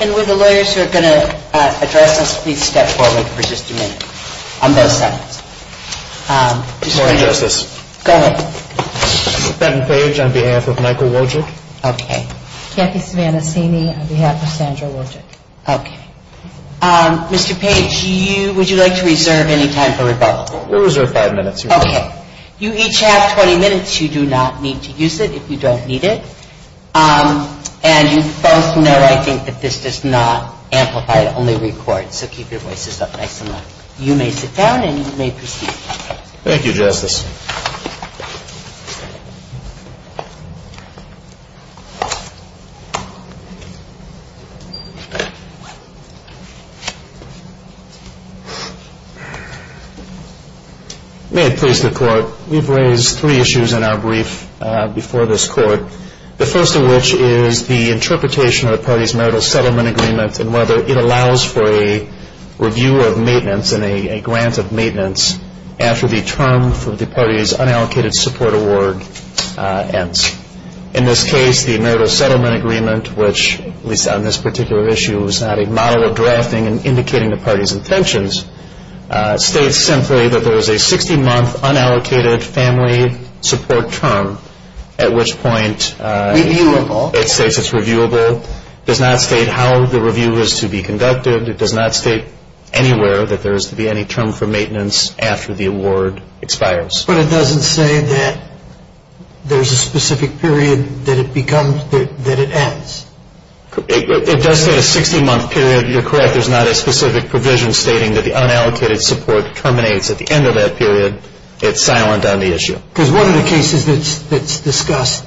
And would the lawyers who are going to address us please step forward for just a minute on those segments. Good morning, Justice. Go ahead. Mr. Benton Page on behalf of Michael Wojick. Okay. Jackie Savanasini on behalf of Sandra Wojick. Okay. Mr. Page, would you like to reserve any time for rebuttal? We'll reserve five minutes, Your Honor. Okay. You each have 20 minutes. You do not need to use it if you don't need it. And you both know, I think, that this does not amplify, it only records, so keep your voices up nice and loud. You may sit down and you may proceed. Thank you, Justice. May it please the Court, we've raised three issues in our brief before this Court. The first of which is the interpretation of the party's marital settlement agreement and whether it allows for a review of maintenance and a grant of maintenance after the term for the party's unallocated support award ends. In this case, the marital settlement agreement, which on this particular issue is not a model of drafting and indicating the party's intentions, states simply that there is a 60-month unallocated family support term, at which point it states it's reviewable, does not state how the review is to be conducted, it does not state anywhere that there is to be any term for maintenance after the award expires. But it doesn't say that there's a specific period that it ends. It does say a 60-month period, you're correct, there's not a specific provision stating that the unallocated support terminates at the end of that period, it's silent on the issue. Because one of the cases that's discussed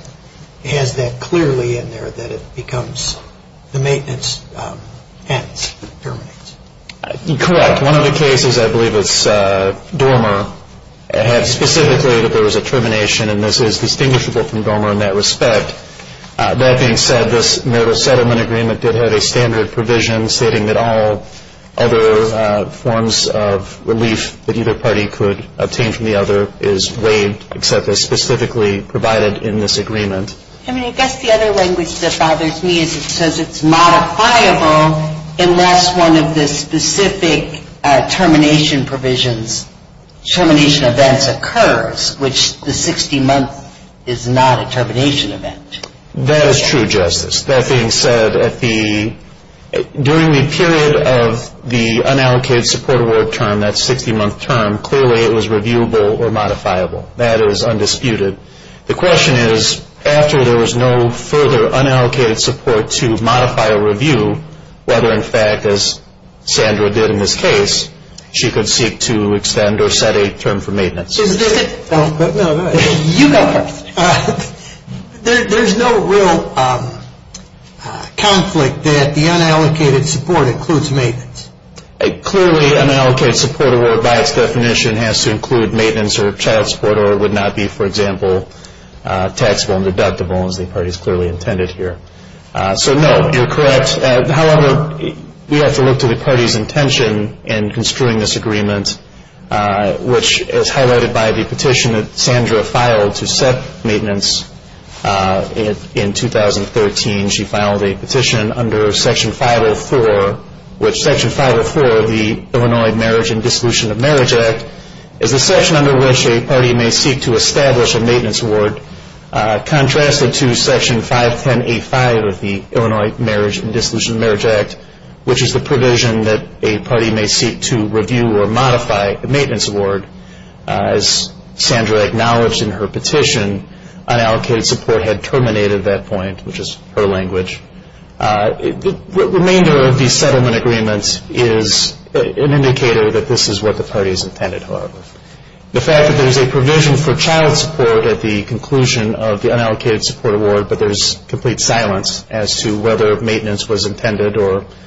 has that clearly in there, that it becomes the maintenance ends, terminates. Correct. One of the cases, I believe it's Dormer, had specifically that there was a termination and this is distinguishable from Dormer in that respect. That being said, this marital settlement agreement did have a standard provision stating that all other forms of relief that either party could obtain from the other is waived except as specifically provided in this agreement. I mean, I guess the other language that bothers me is it says it's modifiable unless one of the specific termination provisions, termination events occurs, which the 60-month is not a termination event. That is true, Justice. That being said, during the period of the unallocated support award term, that 60-month term, clearly it was reviewable or modifiable. That is undisputed. The question is, after there was no further unallocated support to modify a review, whether in fact, as Sandra did in this case, she could seek to extend or set a term for maintenance. There is no real conflict that the unallocated support includes maintenance. Clearly, an unallocated support award by its definition has to include maintenance or child support or it would not be, for example, taxable and deductible as the parties clearly intended here. So, no, you're correct. However, we have to look to the party's intention in construing this agreement, which is highlighted by the petition that Sandra filed to set maintenance in 2013. She filed a petition under Section 504, which Section 504 of the Illinois Marriage and Dissolution of Marriage Act is the section under which a party may seek to establish a maintenance award, contrasted to Section 510A5 of the Illinois Marriage and Dissolution of Marriage Act, which is the provision that a party may seek to review or modify a maintenance award. As Sandra acknowledged in her petition, unallocated support had terminated at that point, which is her language. The remainder of the settlement agreement is an indicator that this is what the parties intended, however. The fact that there's a provision for child support at the conclusion of the unallocated support award, but there's complete silence as to whether maintenance was intended or extended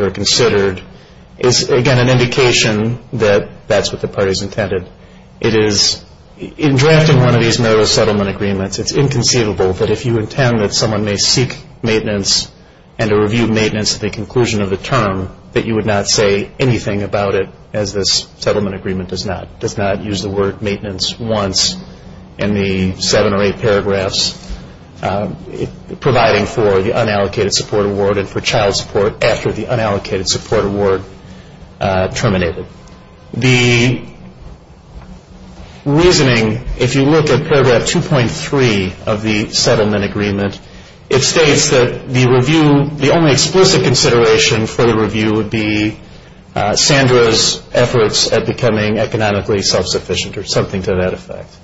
or considered is, again, an indication that that's what the parties intended. It is, in drafting one of these marriage settlement agreements, it's inconceivable that if you intend that someone may seek maintenance and to review maintenance at the conclusion of the term, that you would not say anything about it as this settlement agreement does not. It does not use the word maintenance once in the seven or eight paragraphs. It's providing for the unallocated support award and for child support after the unallocated support award terminated. The reasoning, if you look at paragraph 2.3 of the settlement agreement, it states that the review, the only explicit consideration for the review would be Sandra's efforts at becoming economically self-sufficient or something to that effect.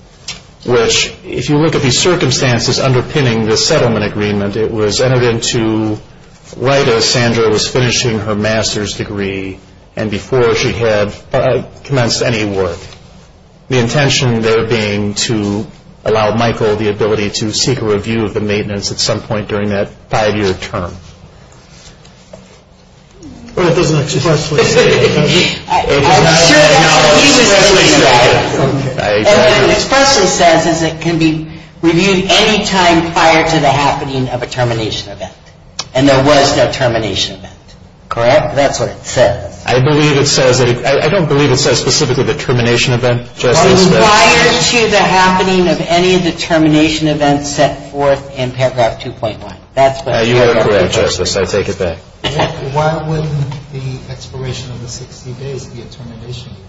Which, if you look at the circumstances underpinning the settlement agreement, it was entered into right as Sandra was finishing her master's degree and before she had commenced any work. The intention there being to allow Michael the ability to seek a review of the maintenance at some point during that five-year term. I'm sure that's what he was saying. What it expressly says is it can be reviewed any time prior to the happening of a termination event. And there was no termination event. Correct? That's what it says. I believe it says, I don't believe it says specifically the termination event, Justice. Prior to the happening of any of the termination events set forth in paragraph 2.1. You are correct, Justice. I take it back. Why would the expiration of the 60 days be a termination event?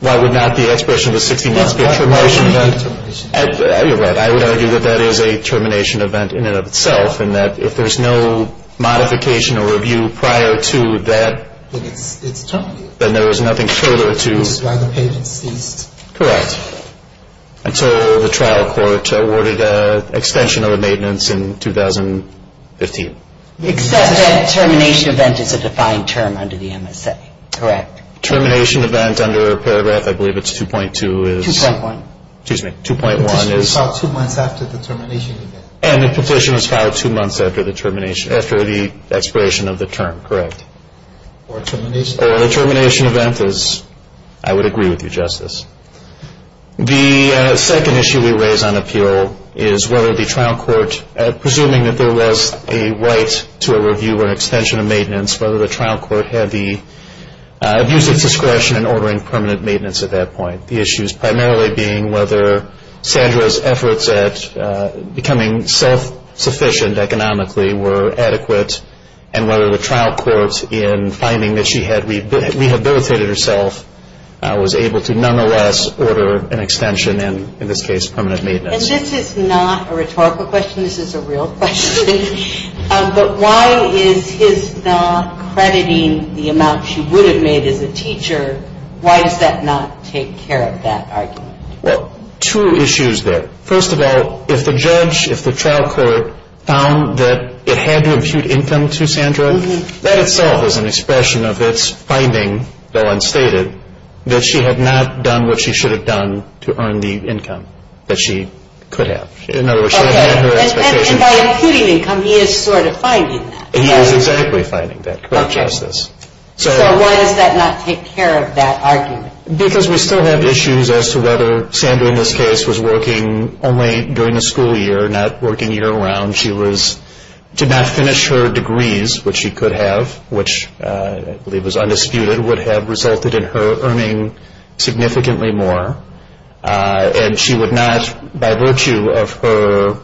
Why would not the expiration of the 60 days be a termination event? You're right. I would argue that that is a termination event in and of itself and that if there's no modification or review prior to that, then there was nothing further to. Which is why the payment ceased. Correct. Until the trial court awarded an extension of the maintenance in 2015. Except that termination event is a defined term under the MSA. Correct. Termination event under paragraph, I believe it's 2.2 is. 2.1. Excuse me. 2.1 is. This was filed two months after the termination event. And the completion was filed two months after the termination, after the expiration of the term. Correct. Or termination. I would agree with you, Justice. The second issue we raise on appeal is whether the trial court, presuming that there was a right to a review or an extension of maintenance, whether the trial court had the abuse of discretion in ordering permanent maintenance at that point. The issues primarily being whether Sandra's efforts at becoming self-sufficient economically were adequate and whether the trial court, in finding that she had rehabilitated herself, was able to nonetheless order an extension and, in this case, permanent maintenance. And this is not a rhetorical question. This is a real question. But why is his not crediting the amount she would have made as a teacher? Why does that not take care of that argument? Well, two issues there. First of all, if the judge, if the trial court found that it had to impute income to Sandra, that itself is an expression of its finding, though unstated, that she had not done what she should have done to earn the income that she could have. In other words, she hadn't met her expectations. Okay. And by imputing income, he is sort of finding that. He is exactly finding that, correct, Justice? Okay. So why does that not take care of that argument? Because we still have issues as to whether Sandra, in this case, was working only during the school year, not working year-round. She did not finish her degrees, which she could have, which I believe was undisputed, would have resulted in her earning significantly more. And she would not, by virtue of her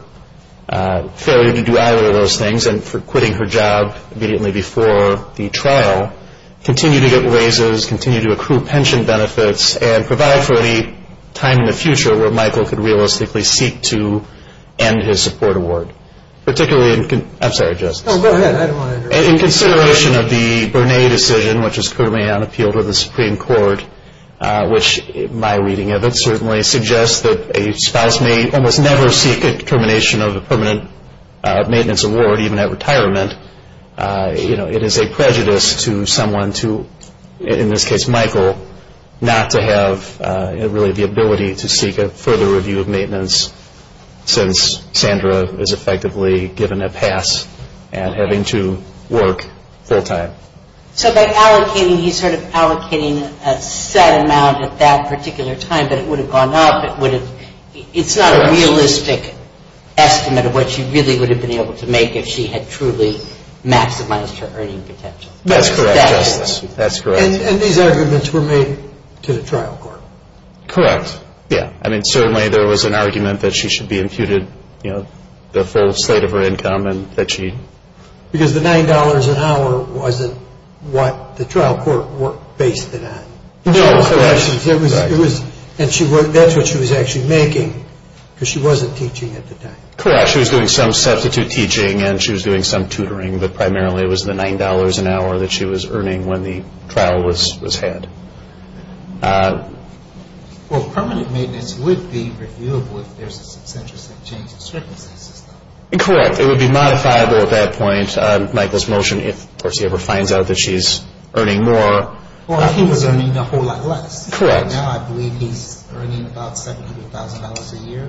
failure to do either of those things and for quitting her job immediately before the trial, continue to get raises, continue to accrue pension benefits, and provide for any time in the future where Michael could realistically seek to end his support award, particularly in consideration of the Bernay decision, which is currently on appeal to the Supreme Court, which my reading of it certainly suggests that a spouse may almost never seek a termination of a permanent maintenance award, even at retirement. You know, it is a prejudice to someone to, in this case, Michael, not to have really the ability to seek a further review of maintenance since Sandra is effectively given a pass at having to work full-time. So by allocating, he's sort of allocating a set amount at that particular time, but it would have gone up. It's not a realistic estimate of what she really would have been able to make if she had truly maximized her earning potential. That's correct, Justice. That's correct. And these arguments were made to the trial court. Correct. Yeah. I mean, certainly there was an argument that she should be imputed, you know, the full slate of her income and that she... Because the $9 an hour wasn't what the trial court worked based it on. No, correct. And that's what she was actually making because she wasn't teaching at the time. Correct. Yeah, she was doing some substitute teaching and she was doing some tutoring, but primarily it was the $9 an hour that she was earning when the trial was had. Well, permanent maintenance would be reviewable if there's a substantive change of circumstances. Correct. It would be modifiable at that point, Michael's motion, if, of course, he ever finds out that she's earning more. Well, he was earning a whole lot less. Correct. Right now I believe he's earning about $700,000 a year.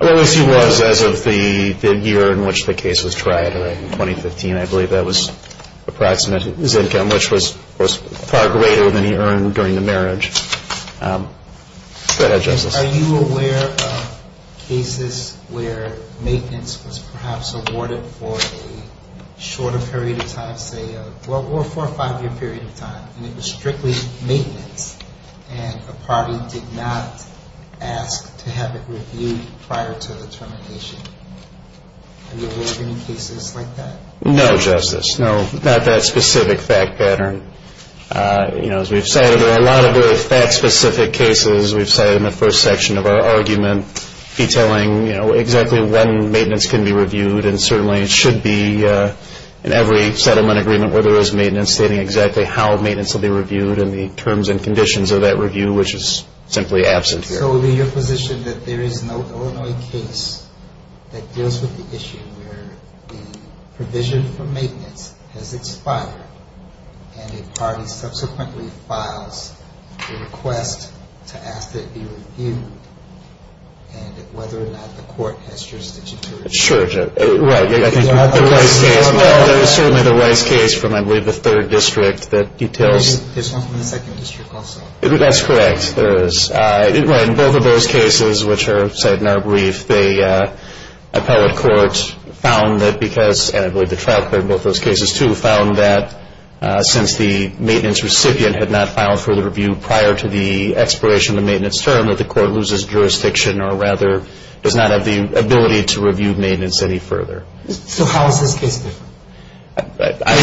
Well, yes, he was as of the year in which the case was tried, right, in 2015. I believe that was approximate, his income, which was far greater than he earned during the marriage. Go ahead, Justice. Are you aware of cases where maintenance was perhaps awarded for a shorter period of time, say a four or five-year period of time, and it was strictly maintenance and the party did not ask to have it reviewed prior to the termination? Are you aware of any cases like that? No, Justice, no, not that specific fact pattern. As we've said, there are a lot of very fact-specific cases. We've said in the first section of our argument, detailing exactly when maintenance can be reviewed and certainly it should be in every settlement agreement where there is maintenance, stating exactly how maintenance will be reviewed and the terms and conditions of that review, which is simply absent here. So would be your position that there is no Illinois case that deals with the issue where the provision for maintenance has expired and a party subsequently files a request to ask that it be reviewed Sure, right. There is certainly the Rice case from I believe the third district that details. There's one from the second district also. That's correct. In both of those cases, which are cited in our brief, the appellate court found that because, and I believe the trial court in both those cases too, found that since the maintenance recipient had not filed for the review prior to the expiration of the maintenance term, that the court loses jurisdiction or rather does not have the ability to review maintenance any further. So how is this case different? I heard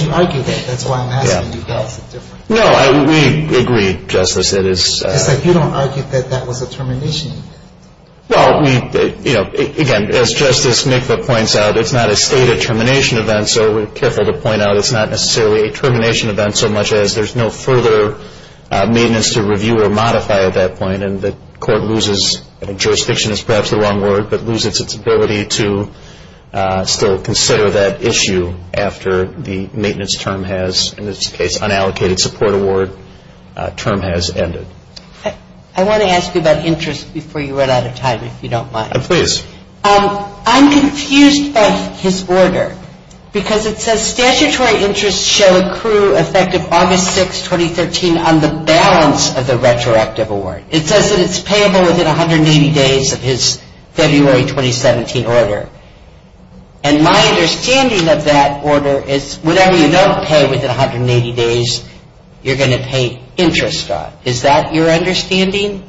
you argue that. That's why I'm asking you how it's different. No, we agree, Justice. It's like you don't argue that that was a termination event. Well, again, as Justice Mikva points out, it's not a stated termination event, so we're careful to point out it's not necessarily a termination event so much as there's no further maintenance to review or modify at that point, and the court loses, I think jurisdiction is perhaps the wrong word, but loses its ability to still consider that issue after the maintenance term has, in this case, unallocated support award term has ended. I want to ask you about interest before you run out of time, if you don't mind. Please. I'm confused by his order because it says statutory interest shall accrue effective August 6, 2013, on the balance of the retroactive award. It says that it's payable within 180 days of his February 2017 order, and my understanding of that order is whatever you don't pay within 180 days, you're going to pay interest on. Is that your understanding?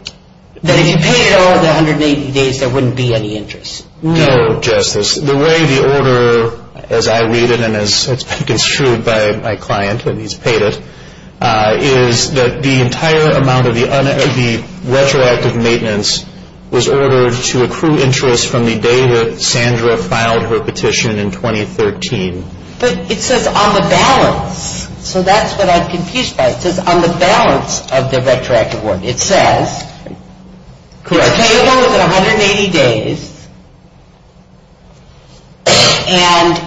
That if you paid it over the 180 days, there wouldn't be any interest? No, Justice. The way the order, as I read it and as it's been construed by my client, and he's paid it, is that the entire amount of the retroactive maintenance was ordered to accrue interest from the day that Sandra filed her petition in 2013. But it says on the balance, so that's what I'm confused by. It says on the balance of the retroactive award. It says it's payable within 180 days, and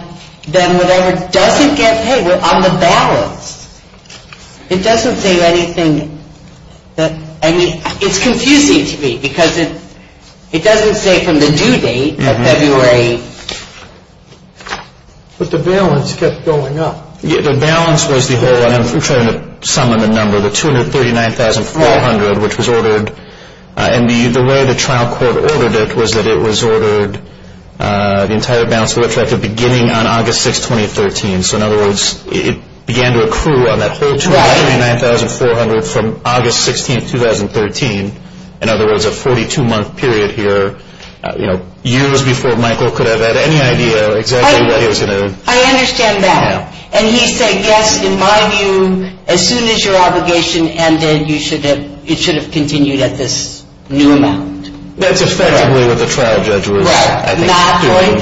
then whatever doesn't get paid on the balance, it doesn't say anything that, I mean, it's confusing to me because it doesn't say from the due date of February. But the balance kept going up. The balance was the whole, and I'm trying to summon the number, the $239,400, which was ordered, and the way the trial court ordered it was that it was ordered, the entire balance of the retroactive beginning on August 6, 2013. So in other words, it began to accrue on that whole $239,400 from August 16, 2013. In other words, a 42-month period here, years before Michael could have had any idea exactly what he was going to do. I understand that. And he said, yes, in my view, as soon as your obligation ended, it should have continued at this new amount. That's effectively what the trial judge was doing. Right, not going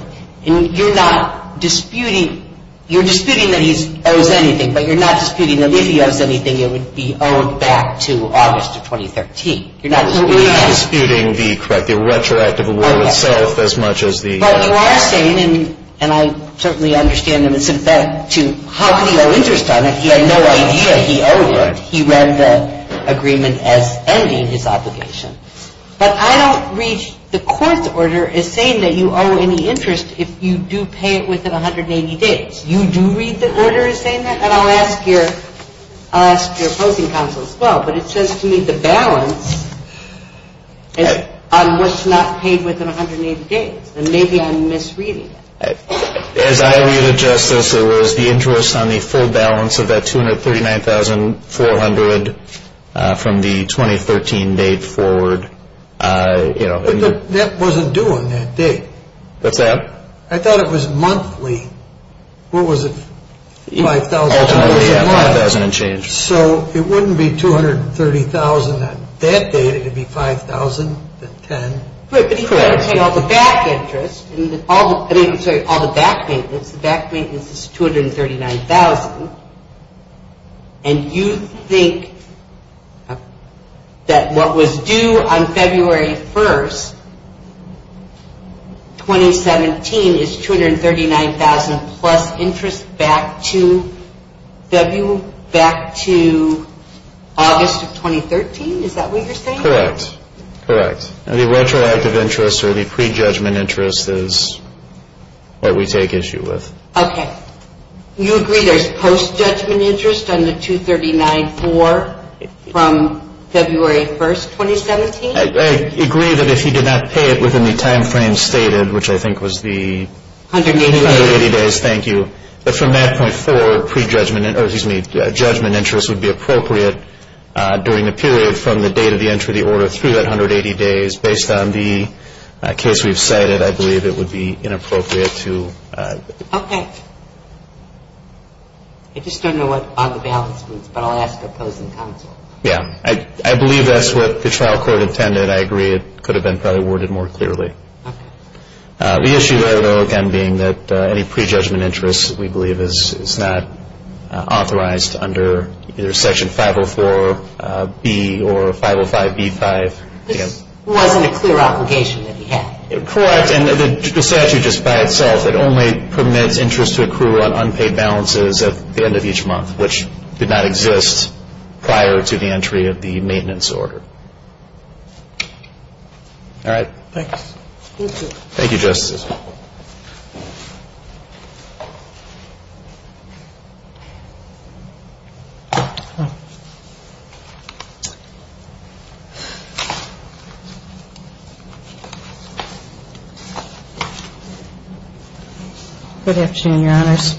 forward. You're not disputing, you're disputing that he owes anything, but you're not disputing that if he owes anything, it would be owed back to August of 2013. You're not disputing the retroactive award itself as much as the… But you are saying, and I certainly understand this, in fact, to how could he owe interest on it? He had no idea he owed it. He read the agreement as ending his obligation. But I don't read the court's order as saying that you owe any interest if you do pay it within 180 days. You do read the order as saying that? And I'll ask your opposing counsel as well. But it says to me the balance is on what's not paid within 180 days. And maybe I'm misreading it. As I read it, Justice, it was the interest on the full balance of that $239,400 from the 2013 date forward. But that wasn't due on that date. What's that? I thought it was monthly. What was it, $5,000 a month? $5,000 and change. So it wouldn't be $230,000 on that date, it would be $5,010? Correct. If you take all the back interest, I'm sorry, all the back maintenance, the back maintenance is $239,000, and you think that what was due on February 1st, 2017, is $239,000 plus interest back to August of 2013? Is that what you're saying? Correct. Correct. The retroactive interest or the prejudgment interest is what we take issue with. Okay. You agree there's post-judgment interest on the $239,400 from February 1st, 2017? I agree that if he did not pay it within the timeframe stated, which I think was the 180 days, thank you. But from that point forward, judgment interest would be appropriate during the period from the date of the entry of the order through that 180 days. Based on the case we've cited, I believe it would be inappropriate to... Okay. I just don't know what the balance is, but I'll ask the opposing counsel. Yeah. I believe that's what the trial court intended. I agree it could have been probably worded more clearly. Okay. The issue, though, again, being that any prejudgment interest, we believe, is not authorized under either Section 504B or 505B-5. This wasn't a clear obligation that he had. Correct. And the statute just by itself, it only permits interest to accrue on unpaid balances at the end of each month, which did not exist prior to the entry of the maintenance order. All right. Thanks. Thank you. Thank you, Justice. Good afternoon, Your Honors.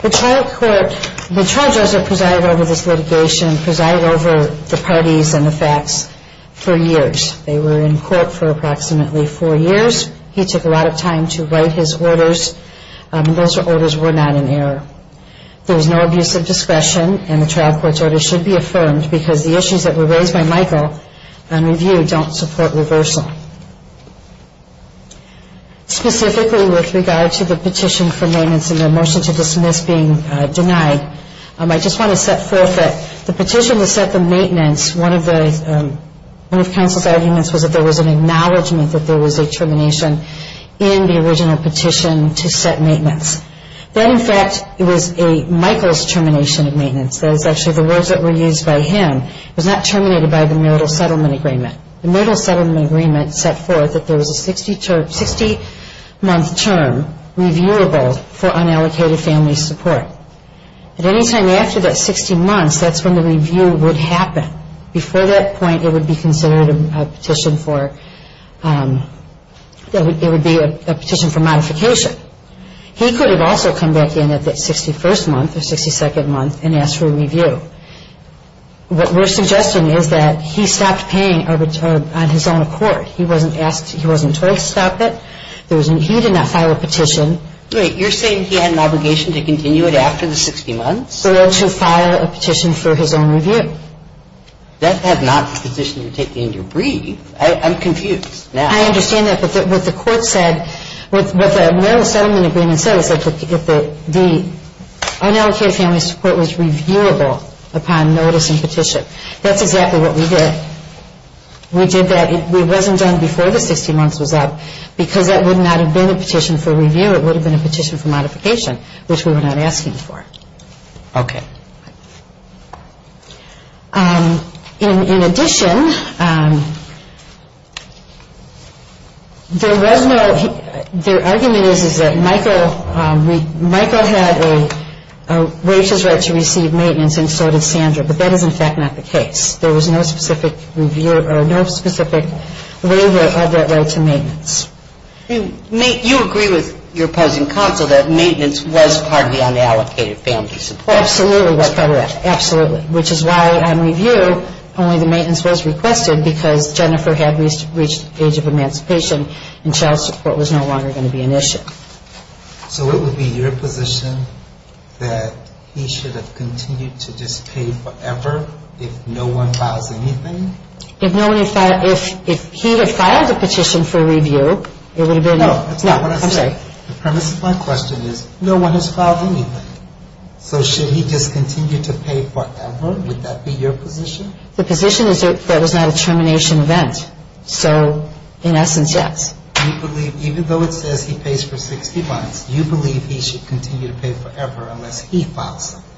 The trial court, the charges that presided over this litigation presided over the parties and the facts for years. They were in court for approximately four years. He took a lot of time to write his orders, and those orders were not in error. There was no abuse of discretion, and the trial court's order should be affirmed because the issues that were raised by Michael on review don't support reversal. Specifically with regard to the petition for maintenance and the motion to dismiss being denied, I just want to set forth that the petition to set the maintenance, one of the counsel's arguments was that there was an acknowledgment that there was a termination in the original petition to set maintenance. That, in fact, was Michael's termination of maintenance. That is actually the words that were used by him. It was not terminated by the Myrtle Settlement Agreement. The Myrtle Settlement Agreement set forth that there was a 60-month term reviewable for unallocated family support. At any time after that 60 months, that's when the review would happen. Before that point, it would be considered a petition for modification. He could have also come back in at that 61st month or 62nd month and asked for a review. What we're suggesting is that he stopped paying on his own accord. He wasn't asked, he wasn't told to stop it. He did not file a petition. Wait, you're saying he had an obligation to continue it after the 60 months? To file a petition for his own review. That's not the position you're taking to breathe. I'm confused now. I understand that, but what the court said, what the Myrtle Settlement Agreement said, the unallocated family support was reviewable upon notice and petition. That's exactly what we did. We did that. It wasn't done before the 60 months was up because that would not have been a petition for review. It would have been a petition for modification, which we were not asking for. Okay. In addition, there was no, their argument is that Michael had a right to receive maintenance and so did Sandra, but that is in fact not the case. There was no specific waiver of that right to maintenance. You agree with your opposing counsel that maintenance was part of the unallocated family support. That absolutely was part of that, absolutely, which is why on review only the maintenance was requested because Jennifer had reached the age of emancipation and child support was no longer going to be an issue. So it would be your position that he should have continued to just pay forever if no one files anything? If no one had filed, if he had filed a petition for review, it would have been. No, that's not what I said. The premise of my question is no one has filed anything. So should he just continue to pay forever? Would that be your position? The position is that that is not a termination event. So in essence, yes. You believe, even though it says he pays for 60 months, you believe he should continue to pay forever unless he files something?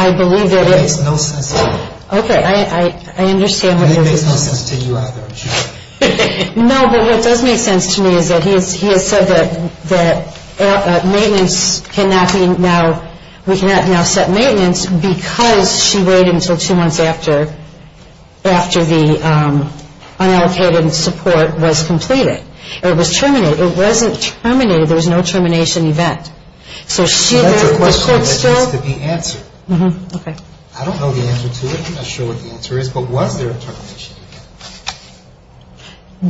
I believe it is. That makes no sense to me. Okay. I understand what you're saying. That makes no sense to you either. No, but what does make sense to me is that he has said that maintenance cannot be now, we cannot now set maintenance because she waited until two months after, after the unallocated support was completed, or it was terminated. It wasn't terminated. There was no termination event. So should the court still? That's a question that needs to be answered. Okay. I don't know the answer to it. I'm not sure what the answer is. But was there a termination event?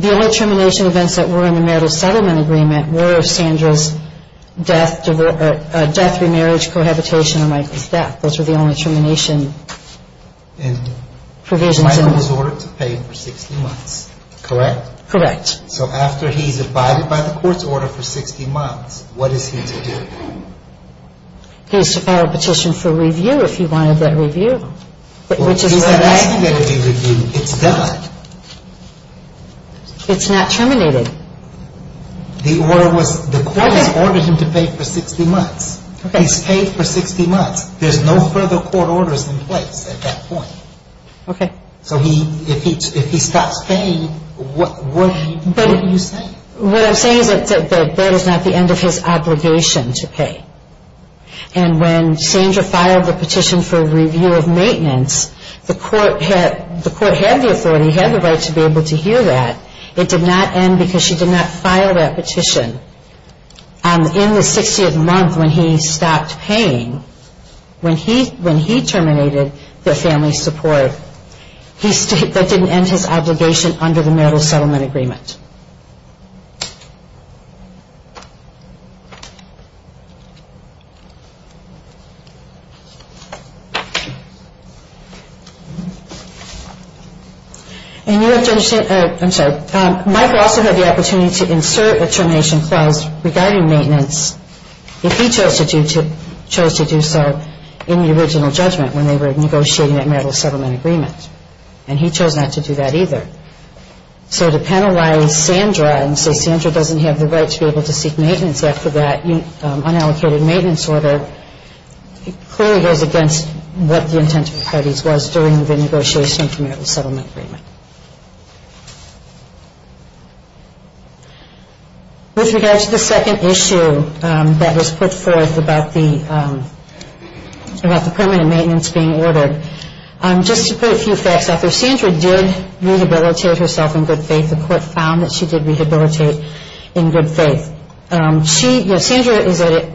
The only termination events that were in the marital settlement agreement were Sandra's death, remarriage, cohabitation, and Michael's death. Those were the only termination provisions. Michael was ordered to pay for 60 months, correct? Correct. So after he's abided by the court's order for 60 months, what is he to do? He's to file a petition for review if he wanted that review, which is what I'm saying. He's not asking that he be reviewed. It's done. It's not terminated. The court has ordered him to pay for 60 months. He's paid for 60 months. There's no further court orders in place at that point. Okay. So if he stops paying, what are you saying? What I'm saying is that that is not the end of his obligation to pay. And when Sandra filed the petition for review of maintenance, the court had the authority, he had the right to be able to hear that. It did not end because she did not file that petition. In the 60th month when he stopped paying, when he terminated the family support, that didn't end his obligation under the marital settlement agreement. And you have to understand, I'm sorry, Michael also had the opportunity to insert a termination clause regarding maintenance if he chose to do so in the original judgment when they were negotiating that marital settlement agreement. And he chose not to do that either. So to penalize Sandra and say Sandra doesn't have the right to be able to seek maintenance after that, unallocated maintenance order clearly goes against what the intent of the parties was during the negotiation of the marital settlement agreement. With regard to the second issue that was put forth about the permanent maintenance being ordered, just to put a few facts out there, Sandra did rehabilitate herself in good faith. The court found that she did rehabilitate in good faith. Sandra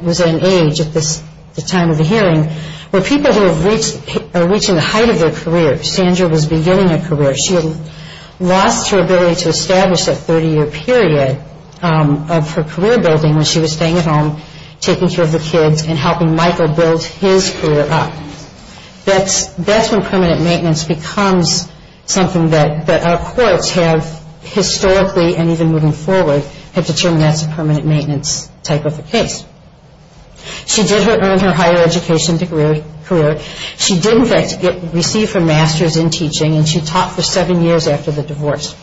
was at an age at the time of the hearing where people who are reaching the height of their career, Sandra was beginning her career. She had lost her ability to establish that 30-year period of her career building when she was staying at home taking care of the kids and helping Michael build his career up. That's when permanent maintenance becomes something that our courts have historically and even moving forward have determined that's a permanent maintenance type of a case. She did earn her higher education career. She did in fact receive her master's in teaching and she taught for seven years after the divorce.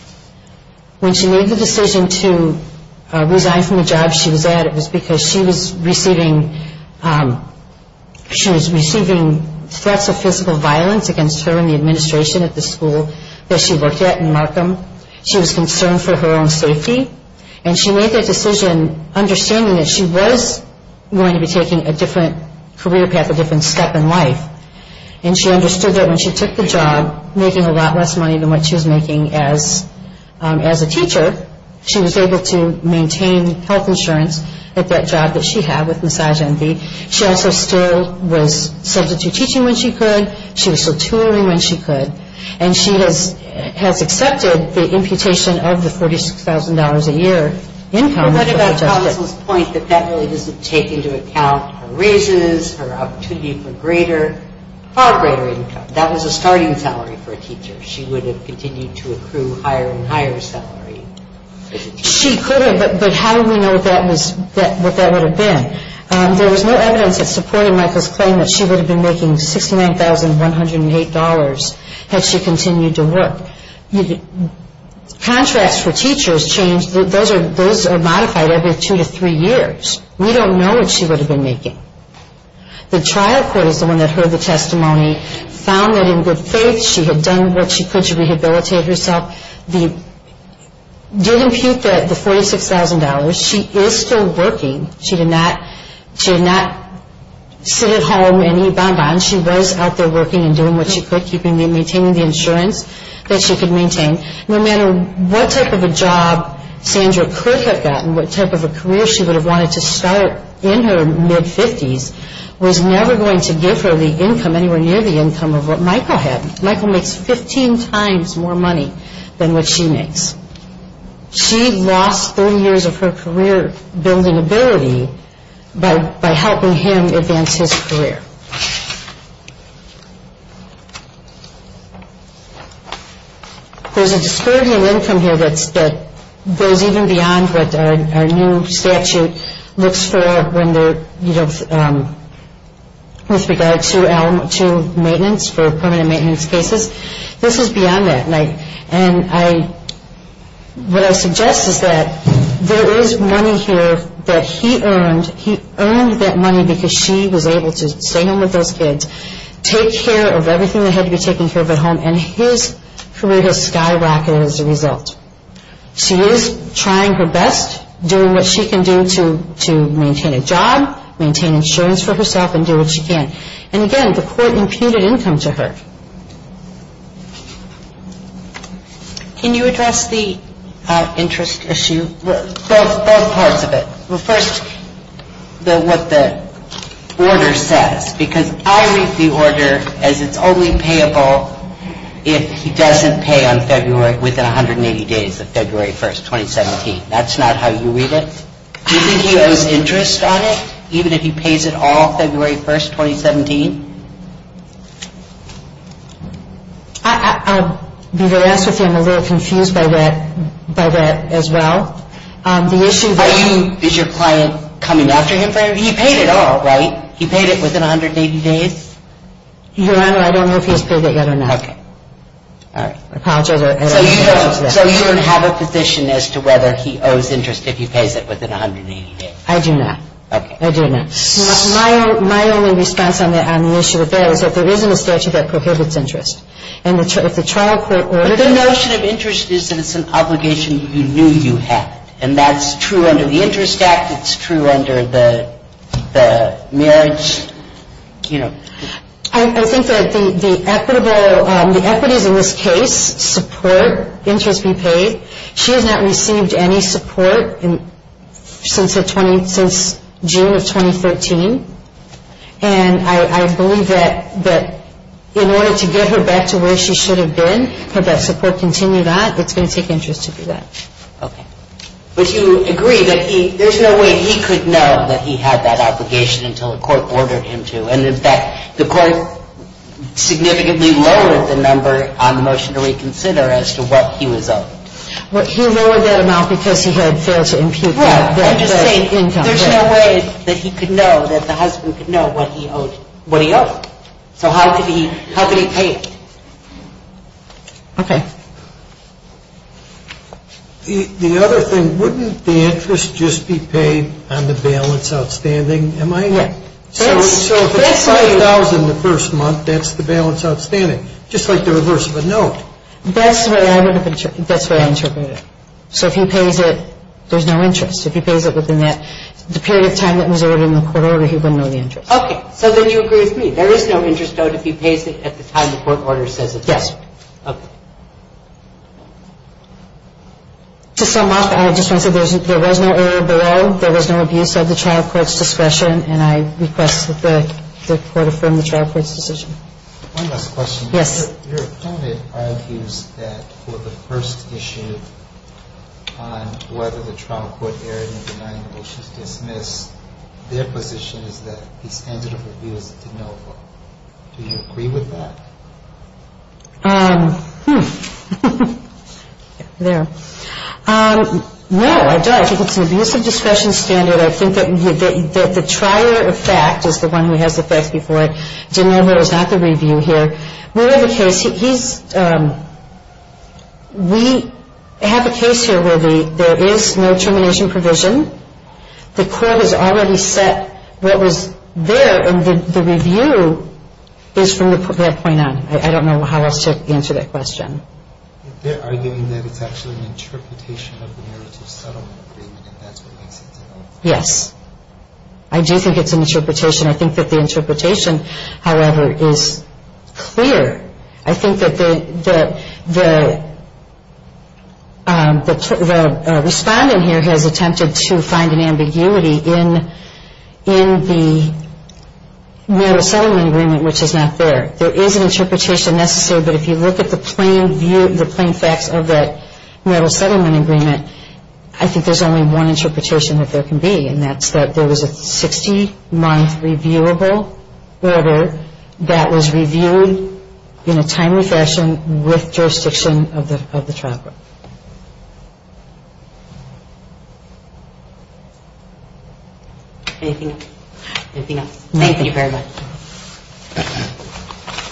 When she made the decision to resign from the job she was at, it was because she was receiving threats of physical violence against her and the administration at the school that she worked at in Markham. She was concerned for her own safety. And she made that decision understanding that she was going to be taking a different career path, a different step in life. And she understood that when she took the job, making a lot less money than what she was making as a teacher, she was able to maintain health insurance at that job that she had with Massage Envy. She also still was substitute teaching when she could. She was still touring when she could. And she has accepted the imputation of the $46,000 a year income. What about counsel's point that that really doesn't take into account her raises, her opportunity for greater, far greater income? That was a starting salary for a teacher. She would have continued to accrue higher and higher salary. She could have, but how do we know what that would have been? There was no evidence that supported Michael's claim that she would have been making $69,108 had she continued to work. Contracts for teachers change. Those are modified every two to three years. We don't know what she would have been making. The trial court is the one that heard the testimony, found that in good faith she had done what she could to rehabilitate herself, did impute the $46,000. She is still working. She did not sit at home and eat bon-bon. She was out there working and doing what she could, maintaining the insurance that she could maintain. No matter what type of a job Sandra could have gotten, what type of a career she would have wanted to start in her mid-50s, was never going to give her the income anywhere near the income of what Michael had. Michael makes 15 times more money than what she makes. She lost 30 years of her career-building ability by helping him advance his career. There's a disparity in income here that goes even beyond what our new statute looks for with regard to maintenance for permanent maintenance cases. This is beyond that. What I suggest is that there is money here that he earned. He earned that money because she was able to stay home with those kids, take care of everything that had to be taken care of at home, and his career has skyrocketed as a result. She is trying her best, doing what she can do to maintain a job, maintain insurance for herself, and do what she can. And again, the court imputed income to her. Can you address the interest issue? Both parts of it. First, what the order says, because I read the order as it's only payable if he doesn't pay on February, within 180 days of February 1st, 2017. That's not how you read it. Do you think he owes interest on it, even if he pays it all February 1st, 2017? I'll be very honest with you. I'm a little confused by that as well. Is your client coming after him? He paid it all, right? He paid it within 180 days? Your Honor, I don't know if he's paid it yet or not. Okay. All right. So you don't have a position as to whether he owes interest if he pays it within 180 days? I do not. Okay. I do not. My only response on the issue of that is that there isn't a statute that prohibits interest. And if the trial court ordered it... But the notion of interest is that it's an obligation you knew you had. And that's true under the Interest Act. It's true under the marriage, you know... I think that the equities in this case support interest be paid. She has not received any support since June of 2013. And I believe that in order to get her back to where she should have been, had that support continued on, it's going to take interest to do that. Okay. But you agree that there's no way he could know that he had that obligation until the court ordered him to. And, in fact, the court significantly lowered the number on the motion to reconsider as to what he was owed. Well, he lowered that amount because he had failed to impute that... Well, I'm just saying there's no way that he could know, that the husband could know what he owed. So how could he pay it? Okay. The other thing, wouldn't the interest just be paid on the bail that's outstanding? Am I... So if it's $5,000 the first month, that's the bail that's outstanding, just like the reverse of a note. That's what I interpreted. So if he pays it, there's no interest. If he pays it within that period of time that was ordered in the court order, he wouldn't know the interest. Okay. So then you agree with me. There is no interest owed if he pays it at the time the court order says it's necessary. Yes. Okay. To sum up, I just want to say there was no error below, there was no abuse of the trial court's discretion, and I request that the court affirm the trial court's decision. One last question. Yes. Your opponent argues that for the first issue on whether the trial court erred in denying Osh's dismiss, their position is that the standard of review is de novo. Do you agree with that? Hmm. There. No, I don't. I think it's an abuse of discretion standard. I think that the trier of fact is the one who has the facts before it. De novo is not the review here. We have a case here where there is no termination provision. The court has already set what was there, and the review is from that point on. I don't know how else to answer that question. They're arguing that it's actually an interpretation of the narrative settlement agreement, and that's what makes it de novo. Yes. I do think it's an interpretation. I think that the interpretation, however, is clear. I think that the respondent here has attempted to find an ambiguity in the narrative settlement agreement, which is not there. There is an interpretation necessary, but if you look at the plain facts of that narrative settlement agreement, I think there's only one interpretation that there can be, and that's that there was a 60-month reviewable order that was reviewed in a timely fashion with jurisdiction of the trial court. Anything else? Thank you very much.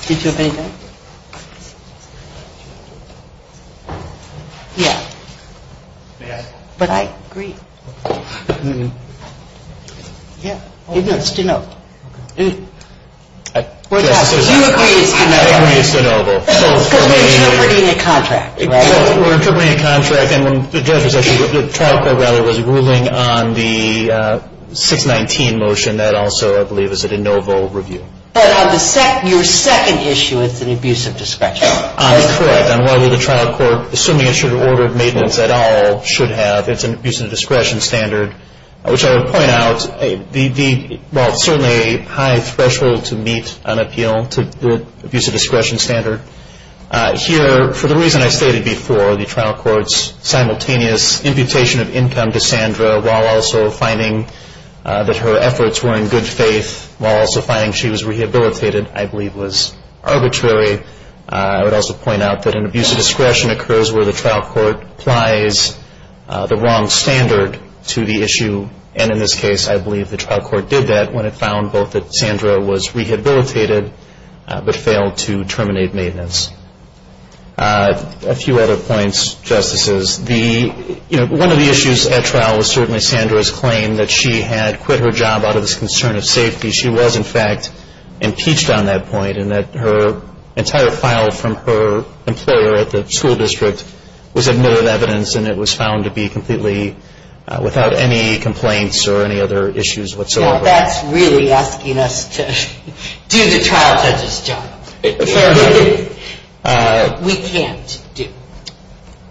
Did you have anything? Yeah. But I agree. Yeah. It is de novo. You agree it's de novo. I agree it's de novo. Because we're interpreting a contract, right? We're interpreting a contract, and the trial court rather was ruling on the 619 motion and that also, I believe, is a de novo review. But on your second issue, it's an abuse of discretion. Correct. On whether the trial court, assuming it should have ordered maintenance at all, should have, it's an abuse of discretion standard, which I would point out, while it's certainly a high threshold to meet an appeal to abuse of discretion standard, here, for the reason I stated before, the trial court's simultaneous imputation of income to Sandra while also finding that her efforts were in good faith, while also finding she was rehabilitated, I believe was arbitrary. I would also point out that an abuse of discretion occurs where the trial court applies the wrong standard to the issue. And in this case, I believe the trial court did that when it found both that Sandra was rehabilitated but failed to terminate maintenance. A few other points, Justices. One of the issues at trial was certainly Sandra's claim that she had quit her job out of this concern of safety. She was, in fact, impeached on that point, and that her entire file from her employer at the school district was admitted evidence and it was found to be completely without any complaints or any other issues whatsoever. Now, that's really asking us to do the trial judge's job. Fair enough. We can't do it.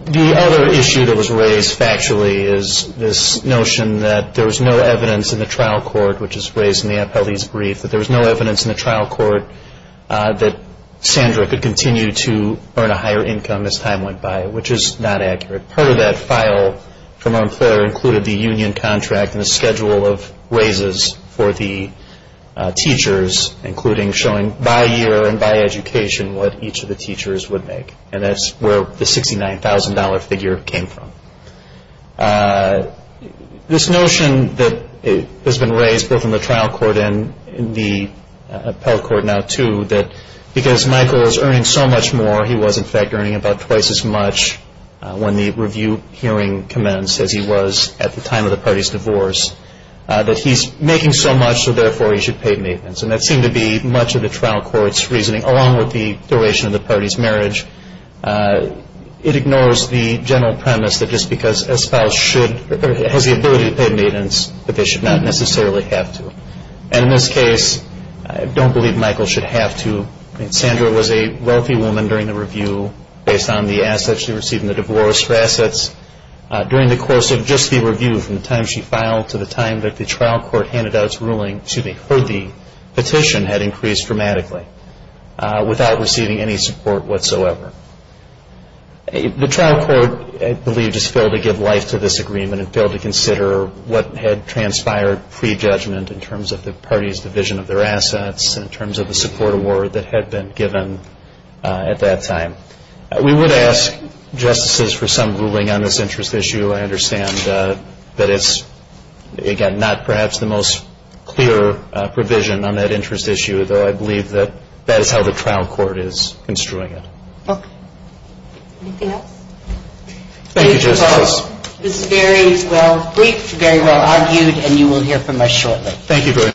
The other issue that was raised factually is this notion that there was no evidence in the trial court, which is raised in the appellee's brief, that there was no evidence in the trial court that Sandra could continue to earn a higher income as time went by, which is not accurate. Part of that file from her employer included the union contract and the schedule of raises for the teachers, including showing by year and by education what each of the teachers would make. And that's where the $69,000 figure came from. This notion that has been raised both in the trial court and in the appellate court now, too, that because Michael is earning so much more, he was, in fact, earning about twice as much when the review hearing commenced as he was at the time of the party's divorce, that he's making so much, so therefore he should pay maintenance. And that seemed to be much of the trial court's reasoning, along with the duration of the party's marriage. It ignores the general premise that just because a spouse should or has the ability to pay maintenance, that they should not necessarily have to. And in this case, I don't believe Michael should have to. I mean, Sandra was a wealthy woman during the review based on the assets she received in the divorce for assets. During the course of just the review from the time she filed to the time that the trial court handed out its ruling, the petition had increased dramatically without receiving any support whatsoever. The trial court, I believe, just failed to give life to this agreement and failed to consider what had transpired pre-judgment in terms of the party's division of their assets and in terms of the support award that had been given at that time. We would ask justices for some ruling on this interest issue. I understand that it's, again, not perhaps the most clear provision on that interest issue, though I believe that that is how the trial court is construing it. Okay. Anything else? Thank you, Justice. This is very well briefed, very well argued, and you will hear from us shortly. Thank you very much.